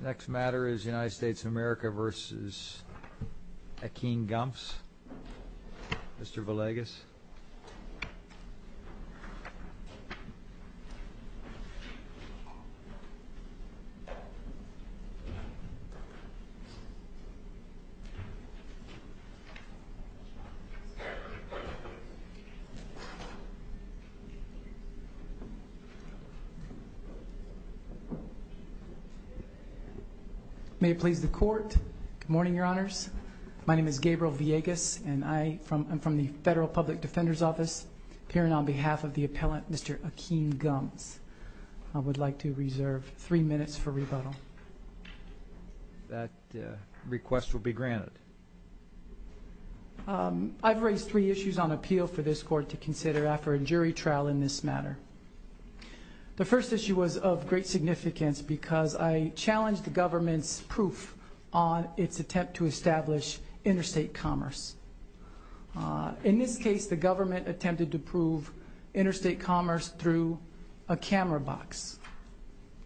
The next matter is United States of America versus Akeem Gumbs, Mr. Villegas. May it please the Court. Good morning, Your Honors. My name is Gabriel Villegas, and I'm from the Federal Public Defender's Office, appearing on behalf of the appellant, Mr. Akeem Gumbs. I would like to reserve three minutes for rebuttal. That request will be granted. I've raised three issues on appeal for this Court to consider after a jury trial in this matter. The first issue was of great significance because I challenged the government's proof on its attempt to establish interstate commerce. In this case, the government attempted to prove interstate commerce through a camera box.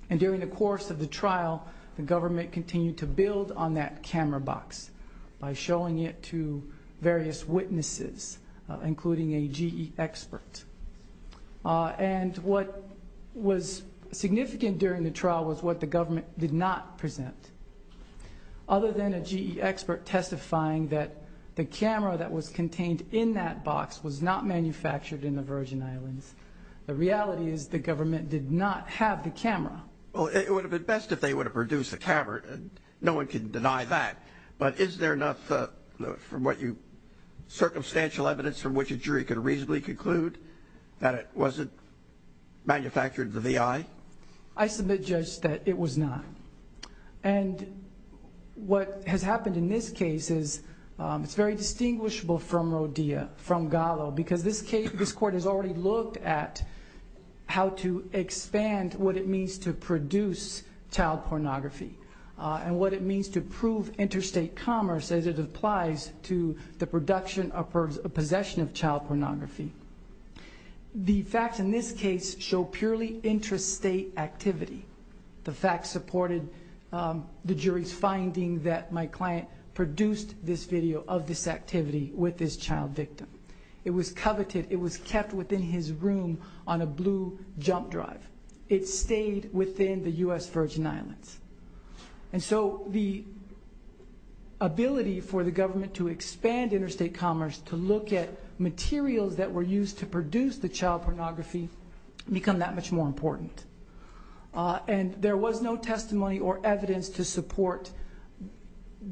And during the course of the trial, the government continued to build on that camera box by showing it to various witnesses, including a GE expert. And what was significant during the trial was what the government did not present, other than a GE expert testifying that the camera that was contained in that box was not manufactured in the Virgin Islands. The reality is the government did not have the camera. Well, it would have been best if they would have produced the camera. No one can deny that. But is there enough circumstantial evidence from which a jury could reasonably conclude that it wasn't manufactured in the VI? I submit, Judge, that it was not. And what has happened in this case is it's very distinguishable from Rodea, from Gallo, because this court has already looked at how to expand what it means to produce child pornography and what it means to prove interstate commerce as it applies to the production or possession of child pornography. The facts in this case show purely interstate activity. The facts supported the jury's finding that my client produced this video of this activity with this child victim. It was coveted. It was kept within his room on a blue jump drive. It stayed within the US Virgin Islands. And so the ability for the government to expand interstate commerce, to look at materials that were used to produce the child pornography, become that much more important. And there was no testimony or evidence to support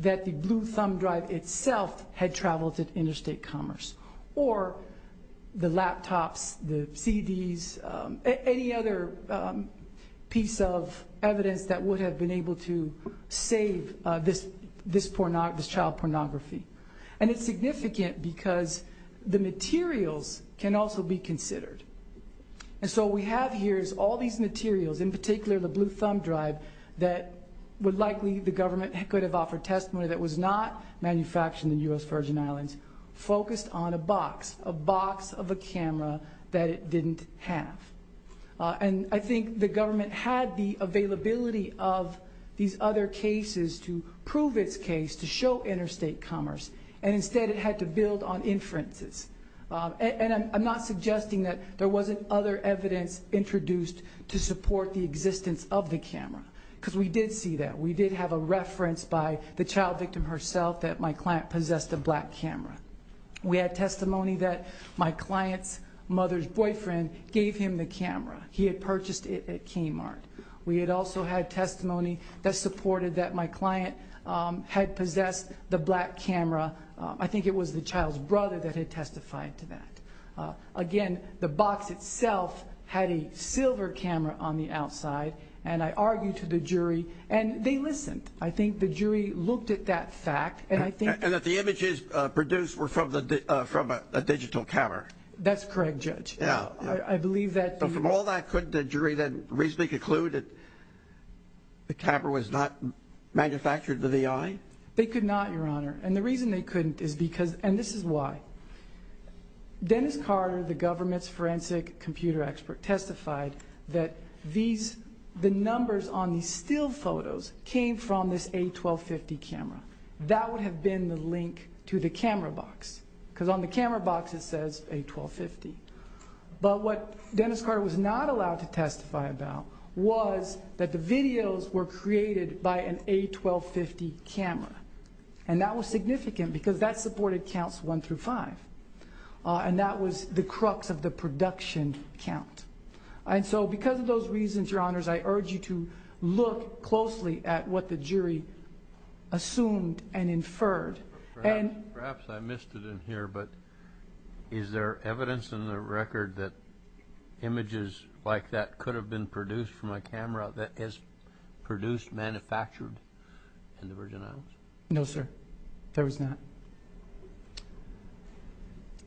that the blue thumb drive itself had traveled to interstate commerce. Or the laptops, the CDs, any other piece of evidence that would have been able to save this child pornography. And it's significant because the materials can also be considered. And so what we have here is all these materials, in particular the blue thumb drive, that would likely the government could have offered testimony that was not manufactured in the US Virgin Islands, focused on a box, a box of a camera that it didn't have. And I think the government had the availability of these other cases to prove its case, to show interstate commerce. And instead it had to build on inferences. And I'm not suggesting that there wasn't other evidence introduced to support the existence of the camera. Because we did see that. We did have a reference by the child victim herself that my client possessed a black camera. We had testimony that my client's mother's boyfriend gave him the camera. He had purchased it at Kmart. We had also had testimony that supported that my client had possessed the black camera. I think it was the child's brother that had testified to that. Again, the box itself had a silver camera on the outside. And I argued to the jury. And they listened. I think the jury looked at that fact. And that the images produced were from a digital camera. That's correct, Judge. Yeah. I believe that. But from all that, couldn't the jury then reasonably conclude that the camera was not manufactured to the eye? They could not, Your Honor. And the reason they couldn't is because, and this is why. Dennis Carter, the government's forensic computer expert, testified that the numbers on these still photos came from this A1250 camera. That would have been the link to the camera box. Because on the camera box it says A1250. But what Dennis Carter was not allowed to testify about was that the videos were created by an A1250 camera. And that was significant because that supported counts one through five. And that was the crux of the production count. And so because of those reasons, Your Honors, I urge you to look closely at what the jury assumed and inferred. Perhaps I missed it in here, but is there evidence in the record that images like that could have been produced from a camera that is produced, manufactured in the Virgin Islands? No, sir. There is not.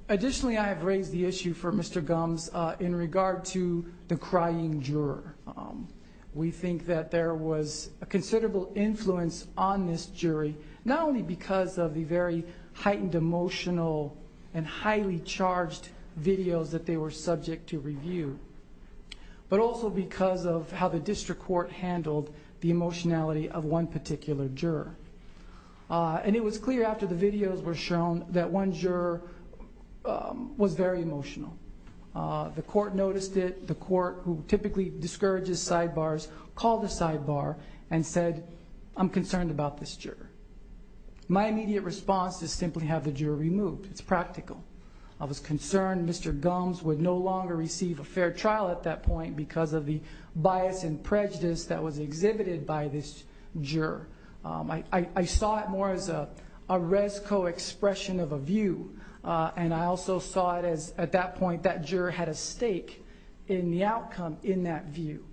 Additionally, I have raised the issue for Mr. Gumbs in regard to the crying juror. We think that there was a considerable influence on this jury, not only because of the very heightened emotional and highly charged videos that they were subject to review, but also because of how the district court handled the emotionality of one particular juror. And it was clear after the videos were shown that one juror was very emotional. The court noticed it. The court, who typically discourages sidebars, called a sidebar and said, I'm concerned about this juror. My immediate response is simply have the juror removed. It's practical. I was concerned Mr. Gumbs would no longer receive a fair trial at that point because of the bias and prejudice that was exhibited by this juror. I saw it more as a resco expression of a view, and I also saw it as at that point that juror had a stake in the outcome in that view.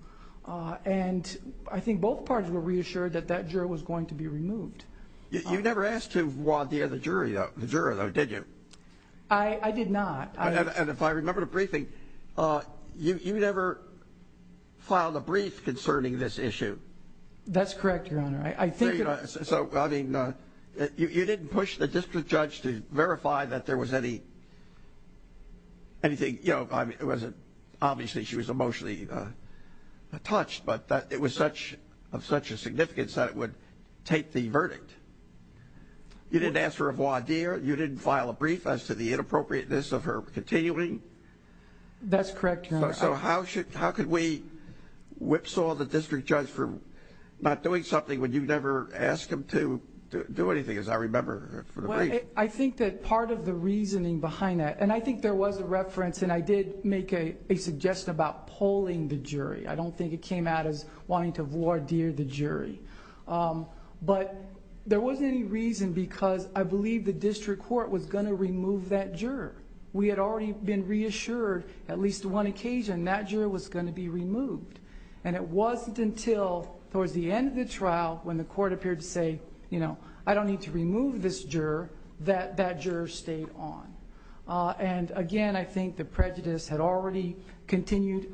And I think both parties were reassured that that juror was going to be removed. You never asked to voir dire the juror, though, did you? I did not. And if I remember the briefing, you never filed a brief concerning this issue. That's correct, Your Honor. So, I mean, you didn't push the district judge to verify that there was anything, you know, obviously she was emotionally touched, but it was of such a significance that it would take the verdict. You didn't ask her a voir dire. You didn't file a brief as to the inappropriateness of her continuing. That's correct, Your Honor. So how could we whipsaw the district judge for not doing something when you never asked him to do anything, as I remember from the brief? Well, I think that part of the reasoning behind that, and I think there was a reference, and I did make a suggestion about polling the jury. I don't think it came out as wanting to voir dire the jury. But there wasn't any reason because I believe the district court was going to remove that juror. We had already been reassured at least one occasion that juror was going to be removed. And it wasn't until towards the end of the trial when the court appeared to say, you know, I don't need to remove this juror, that that juror stayed on. And, again, I think the prejudice had already continued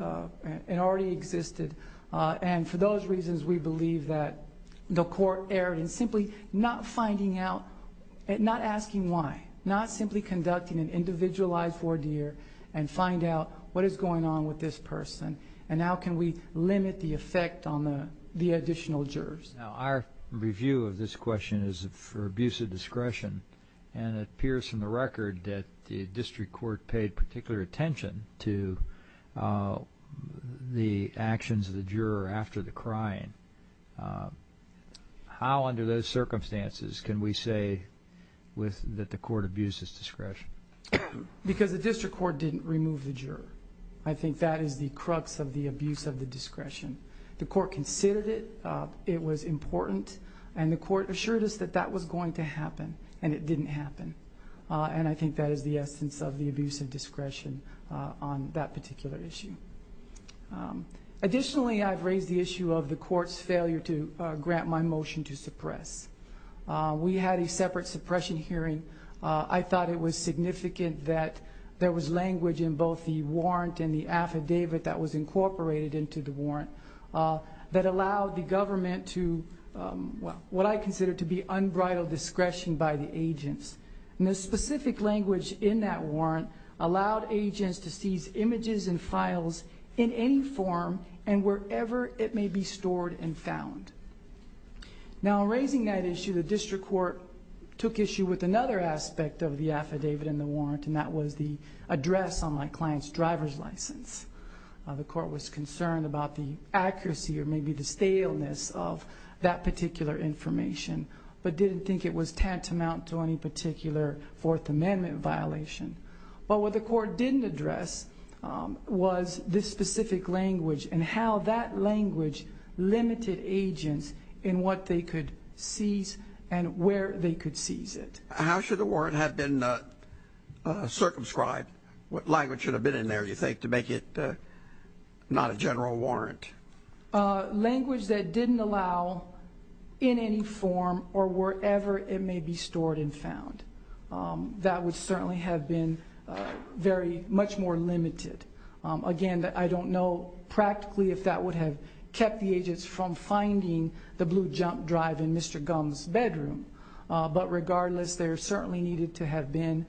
and already existed. And for those reasons, we believe that the court erred in simply not finding out, not asking why, not simply conducting an individualized voir dire and find out what is going on with this person and how can we limit the effect on the additional jurors. Now, our review of this question is for abuse of discretion, and it appears from the record that the district court paid particular attention to the actions of the juror after the crime. How under those circumstances can we say that the court abused his discretion? Because the district court didn't remove the juror. I think that is the crux of the abuse of the discretion. The court considered it. It was important. And the court assured us that that was going to happen, and it didn't happen. And I think that is the essence of the abuse of discretion on that particular issue. Additionally, I've raised the issue of the court's failure to grant my motion to suppress. We had a separate suppression hearing. I thought it was significant that there was language in both the warrant and the affidavit that was incorporated into the warrant that allowed the government to what I consider to be unbridled discretion by the agents. And the specific language in that warrant allowed agents to seize images and files in any form and wherever it may be stored and found. Now, in raising that issue, the district court took issue with another aspect of the affidavit and the warrant, and that was the address on my client's driver's license. The court was concerned about the accuracy or maybe the staleness of that particular information but didn't think it was tantamount to any particular Fourth Amendment violation. But what the court didn't address was this specific language and how that language limited agents in what they could seize and where they could seize it. How should the warrant have been circumscribed? What language should have been in there, do you think, to make it not a general warrant? Language that didn't allow in any form or wherever it may be stored and found. That would certainly have been very much more limited. Again, I don't know practically if that would have kept the agents from finding the blue jump drive in Mr. Gumbs' bedroom. But regardless, there certainly needed to have been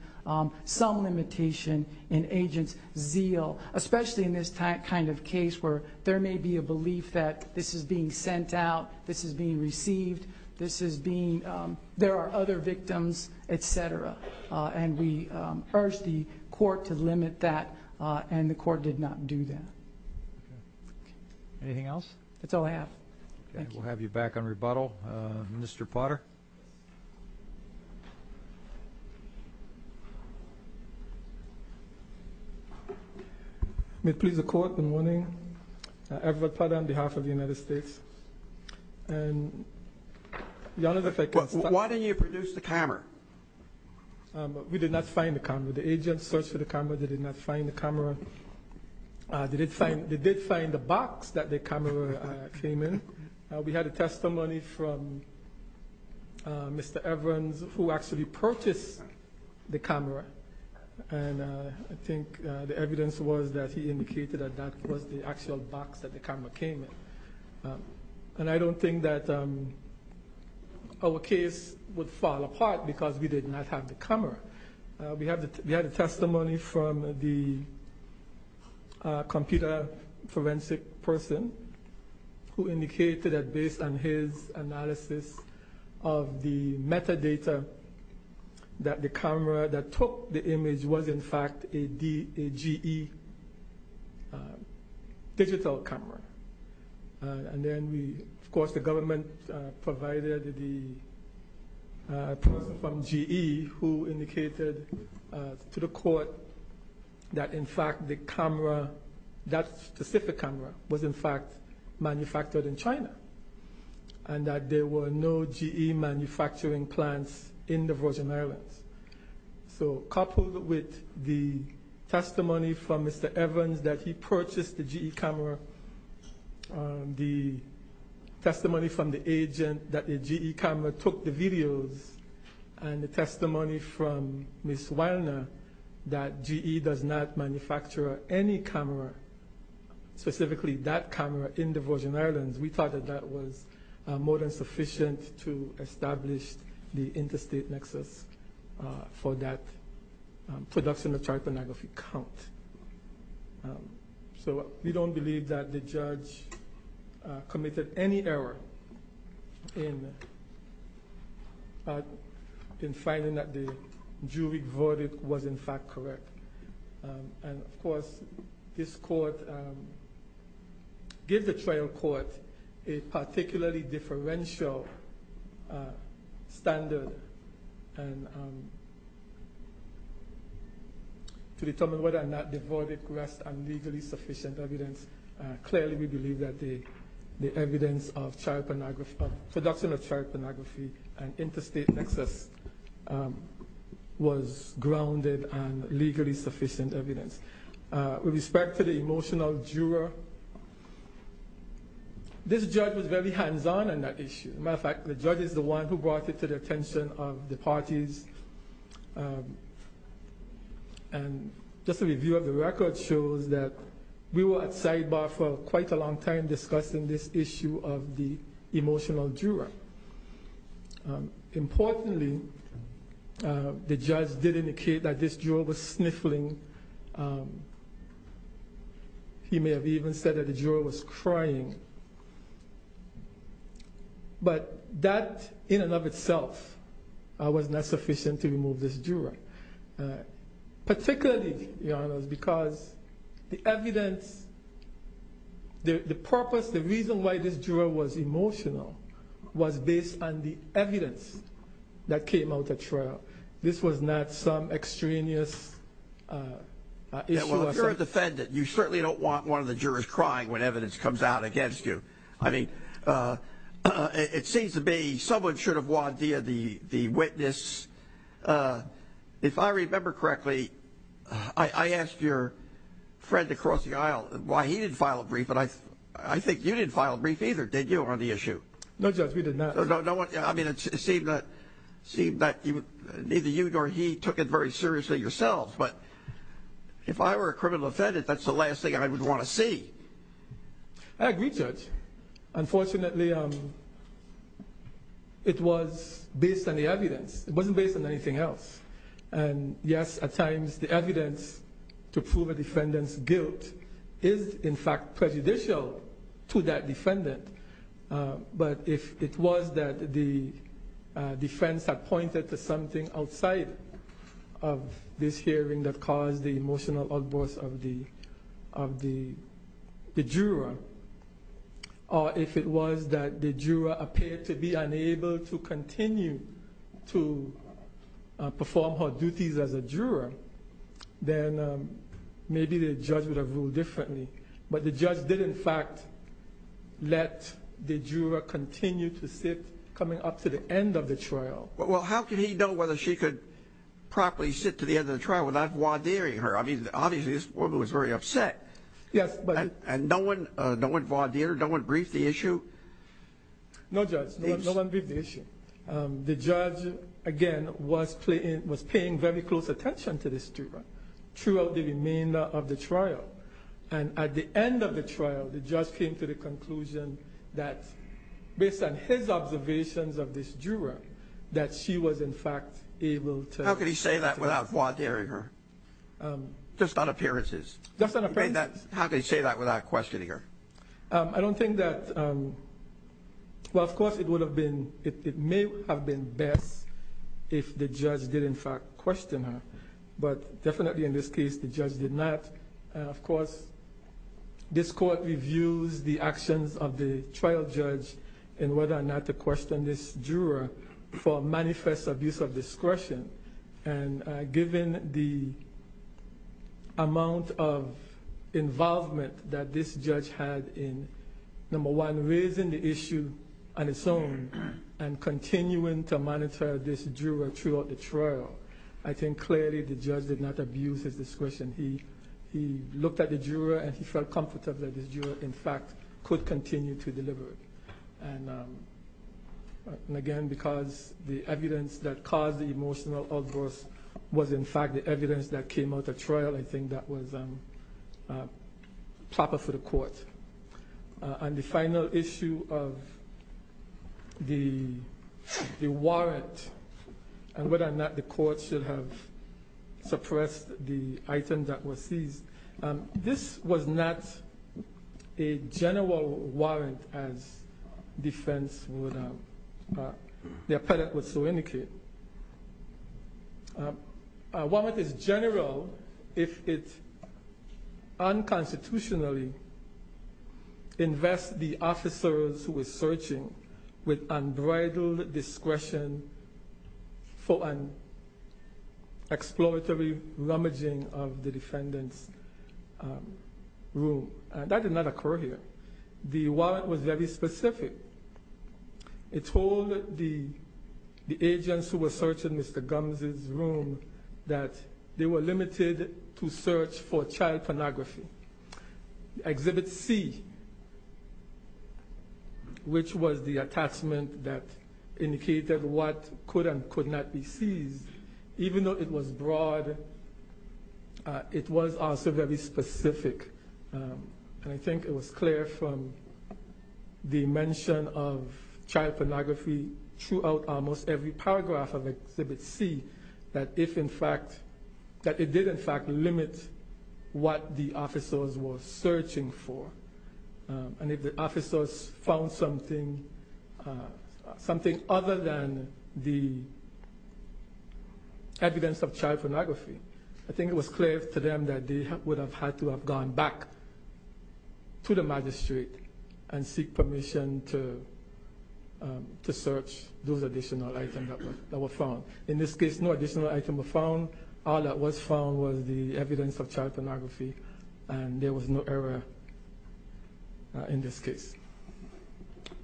some limitation in agents' zeal, especially in this kind of case where there may be a belief that this is being sent out, this is being received, there are other victims, et cetera. And we urge the court to limit that, and the court did not do that. Anything else? That's all I have. Okay. We'll have you back on rebuttal. Mr. Potter. May it please the Court, good morning. Edward Potter on behalf of the United States. Why didn't you produce the camera? We did not find the camera. The agents searched for the camera. They did not find the camera. They did find the box that the camera came in. We had a testimony from Mr. Evans who actually purchased the camera, and I think the evidence was that he indicated that that was the actual box that the camera came in. And I don't think that our case would fall apart because we did not have the camera. We had a testimony from the computer forensic person who indicated that based on his analysis of the metadata that the camera that took the image was, in fact, a GE digital camera. And then, of course, the government provided the person from GE who indicated to the court that, in fact, the camera, that specific camera, was, in fact, manufactured in China and that there were no GE manufacturing plants in the Virgin Islands. So coupled with the testimony from Mr. Evans that he purchased the GE camera, the testimony from the agent that the GE camera took the videos, and the testimony from Ms. Weillner that GE does not manufacture any camera, specifically that camera in the Virgin Islands, we thought that that was more than sufficient to establish the interstate nexus for that production of chart pornography count. So we don't believe that the judge committed any error in finding that the jury verdict was, in fact, correct. And, of course, this court gave the trial court a particularly differential standard to determine whether or not the verdict was legally sufficient evidence. Clearly, we believe that the evidence of production of chart pornography and interstate nexus was grounded and legally sufficient evidence. With respect to the emotional juror, this judge was very hands-on in that issue. As a matter of fact, the judge is the one who brought it to the attention of the parties. And just a review of the record shows that we were at sidebar for quite a long time discussing this issue of the emotional juror. Importantly, the judge did indicate that this juror was sniffling. He may have even said that the juror was crying. But that in and of itself was not sufficient to remove this juror, particularly, to be honest, because the evidence, the purpose, the reason why this juror was emotional was based on the evidence that came out at trial. This was not some extraneous issue or something. Well, if you're a defendant, you certainly don't want one of the jurors crying when evidence comes out against you. I mean, it seems to me someone should have wandeered the witness. If I remember correctly, I asked your friend across the aisle why he didn't file a brief, and I think you didn't file a brief either, did you, on the issue? No, Judge, we did not. I mean, it seemed that neither you nor he took it very seriously yourselves. But if I were a criminal defendant, that's the last thing I would want to see. I agree, Judge. Unfortunately, it was based on the evidence. It wasn't based on anything else. And, yes, at times the evidence to prove a defendant's guilt is, in fact, prejudicial to that defendant. But if it was that the defense had pointed to something outside of this hearing that caused the emotional outburst of the juror, or if it was that the juror appeared to be unable to continue to perform her duties as a juror, then maybe the judge would have ruled differently. But the judge did, in fact, let the juror continue to sit coming up to the end of the trial. Well, how could he know whether she could properly sit to the end of the trial without voir direing her? I mean, obviously this woman was very upset. Yes. And no one voir dired her? No one briefed the issue? No, Judge, no one briefed the issue. The judge, again, was paying very close attention to this juror throughout the remainder of the trial. And at the end of the trial, the judge came to the conclusion that, based on his observations of this juror, that she was, in fact, able to... How could he say that without voir direing her? Just on appearances? Just on appearances. How could he say that without questioning her? I don't think that... Well, of course it would have been... It may have been best if the judge did, in fact, question her. But definitely in this case the judge did not. Of course, this court reviews the actions of the trial judge in whether or not to question this juror for manifest abuse of discretion. And given the amount of involvement that this judge had in, number one, raising the issue on its own and continuing to monitor this juror throughout the trial, I think clearly the judge did not abuse his discretion. He looked at the juror and he felt comfortable that this juror, in fact, could continue to deliver. And again, because the evidence that caused the emotional outburst was, in fact, the evidence that came out of the trial, I think that was proper for the court. On the final issue of the warrant and whether or not the court should have suppressed the item that was seized, this was not a general warrant as defense would have... The appellate would so indicate. A warrant is general if it unconstitutionally invests the officers who are searching with unbridled discretion for an exploratory rummaging of the defendant's room. That did not occur here. The warrant was very specific. It told the agents who were searching Mr. Gumbs' room that they were limited to search for child pornography. Exhibit C, which was the attachment that indicated what could and could not be seized, even though it was broad, it was also very specific. And I think it was clear from the mention of child pornography throughout almost every paragraph of Exhibit C that it did, in fact, limit what the officers were searching for. And if the officers found something other than the evidence of child pornography, I think it was clear to them that they would have had to have gone back to the magistrate and seek permission to search those additional items that were found. In this case, no additional items were found. All that was found was the evidence of child pornography, and there was no error in this case.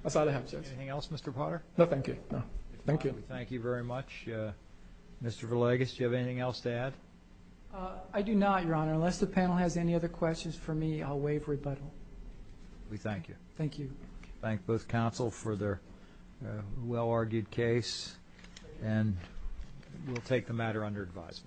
That's all I have. Anything else, Mr. Potter? No, thank you. Thank you very much. Mr. Verlagas, do you have anything else to add? I do not, Your Honor. Unless the panel has any other questions for me, I'll waive rebuttal. We thank you. Thank you. Thank both counsel for their well-argued case, and we'll take the matter under advisement.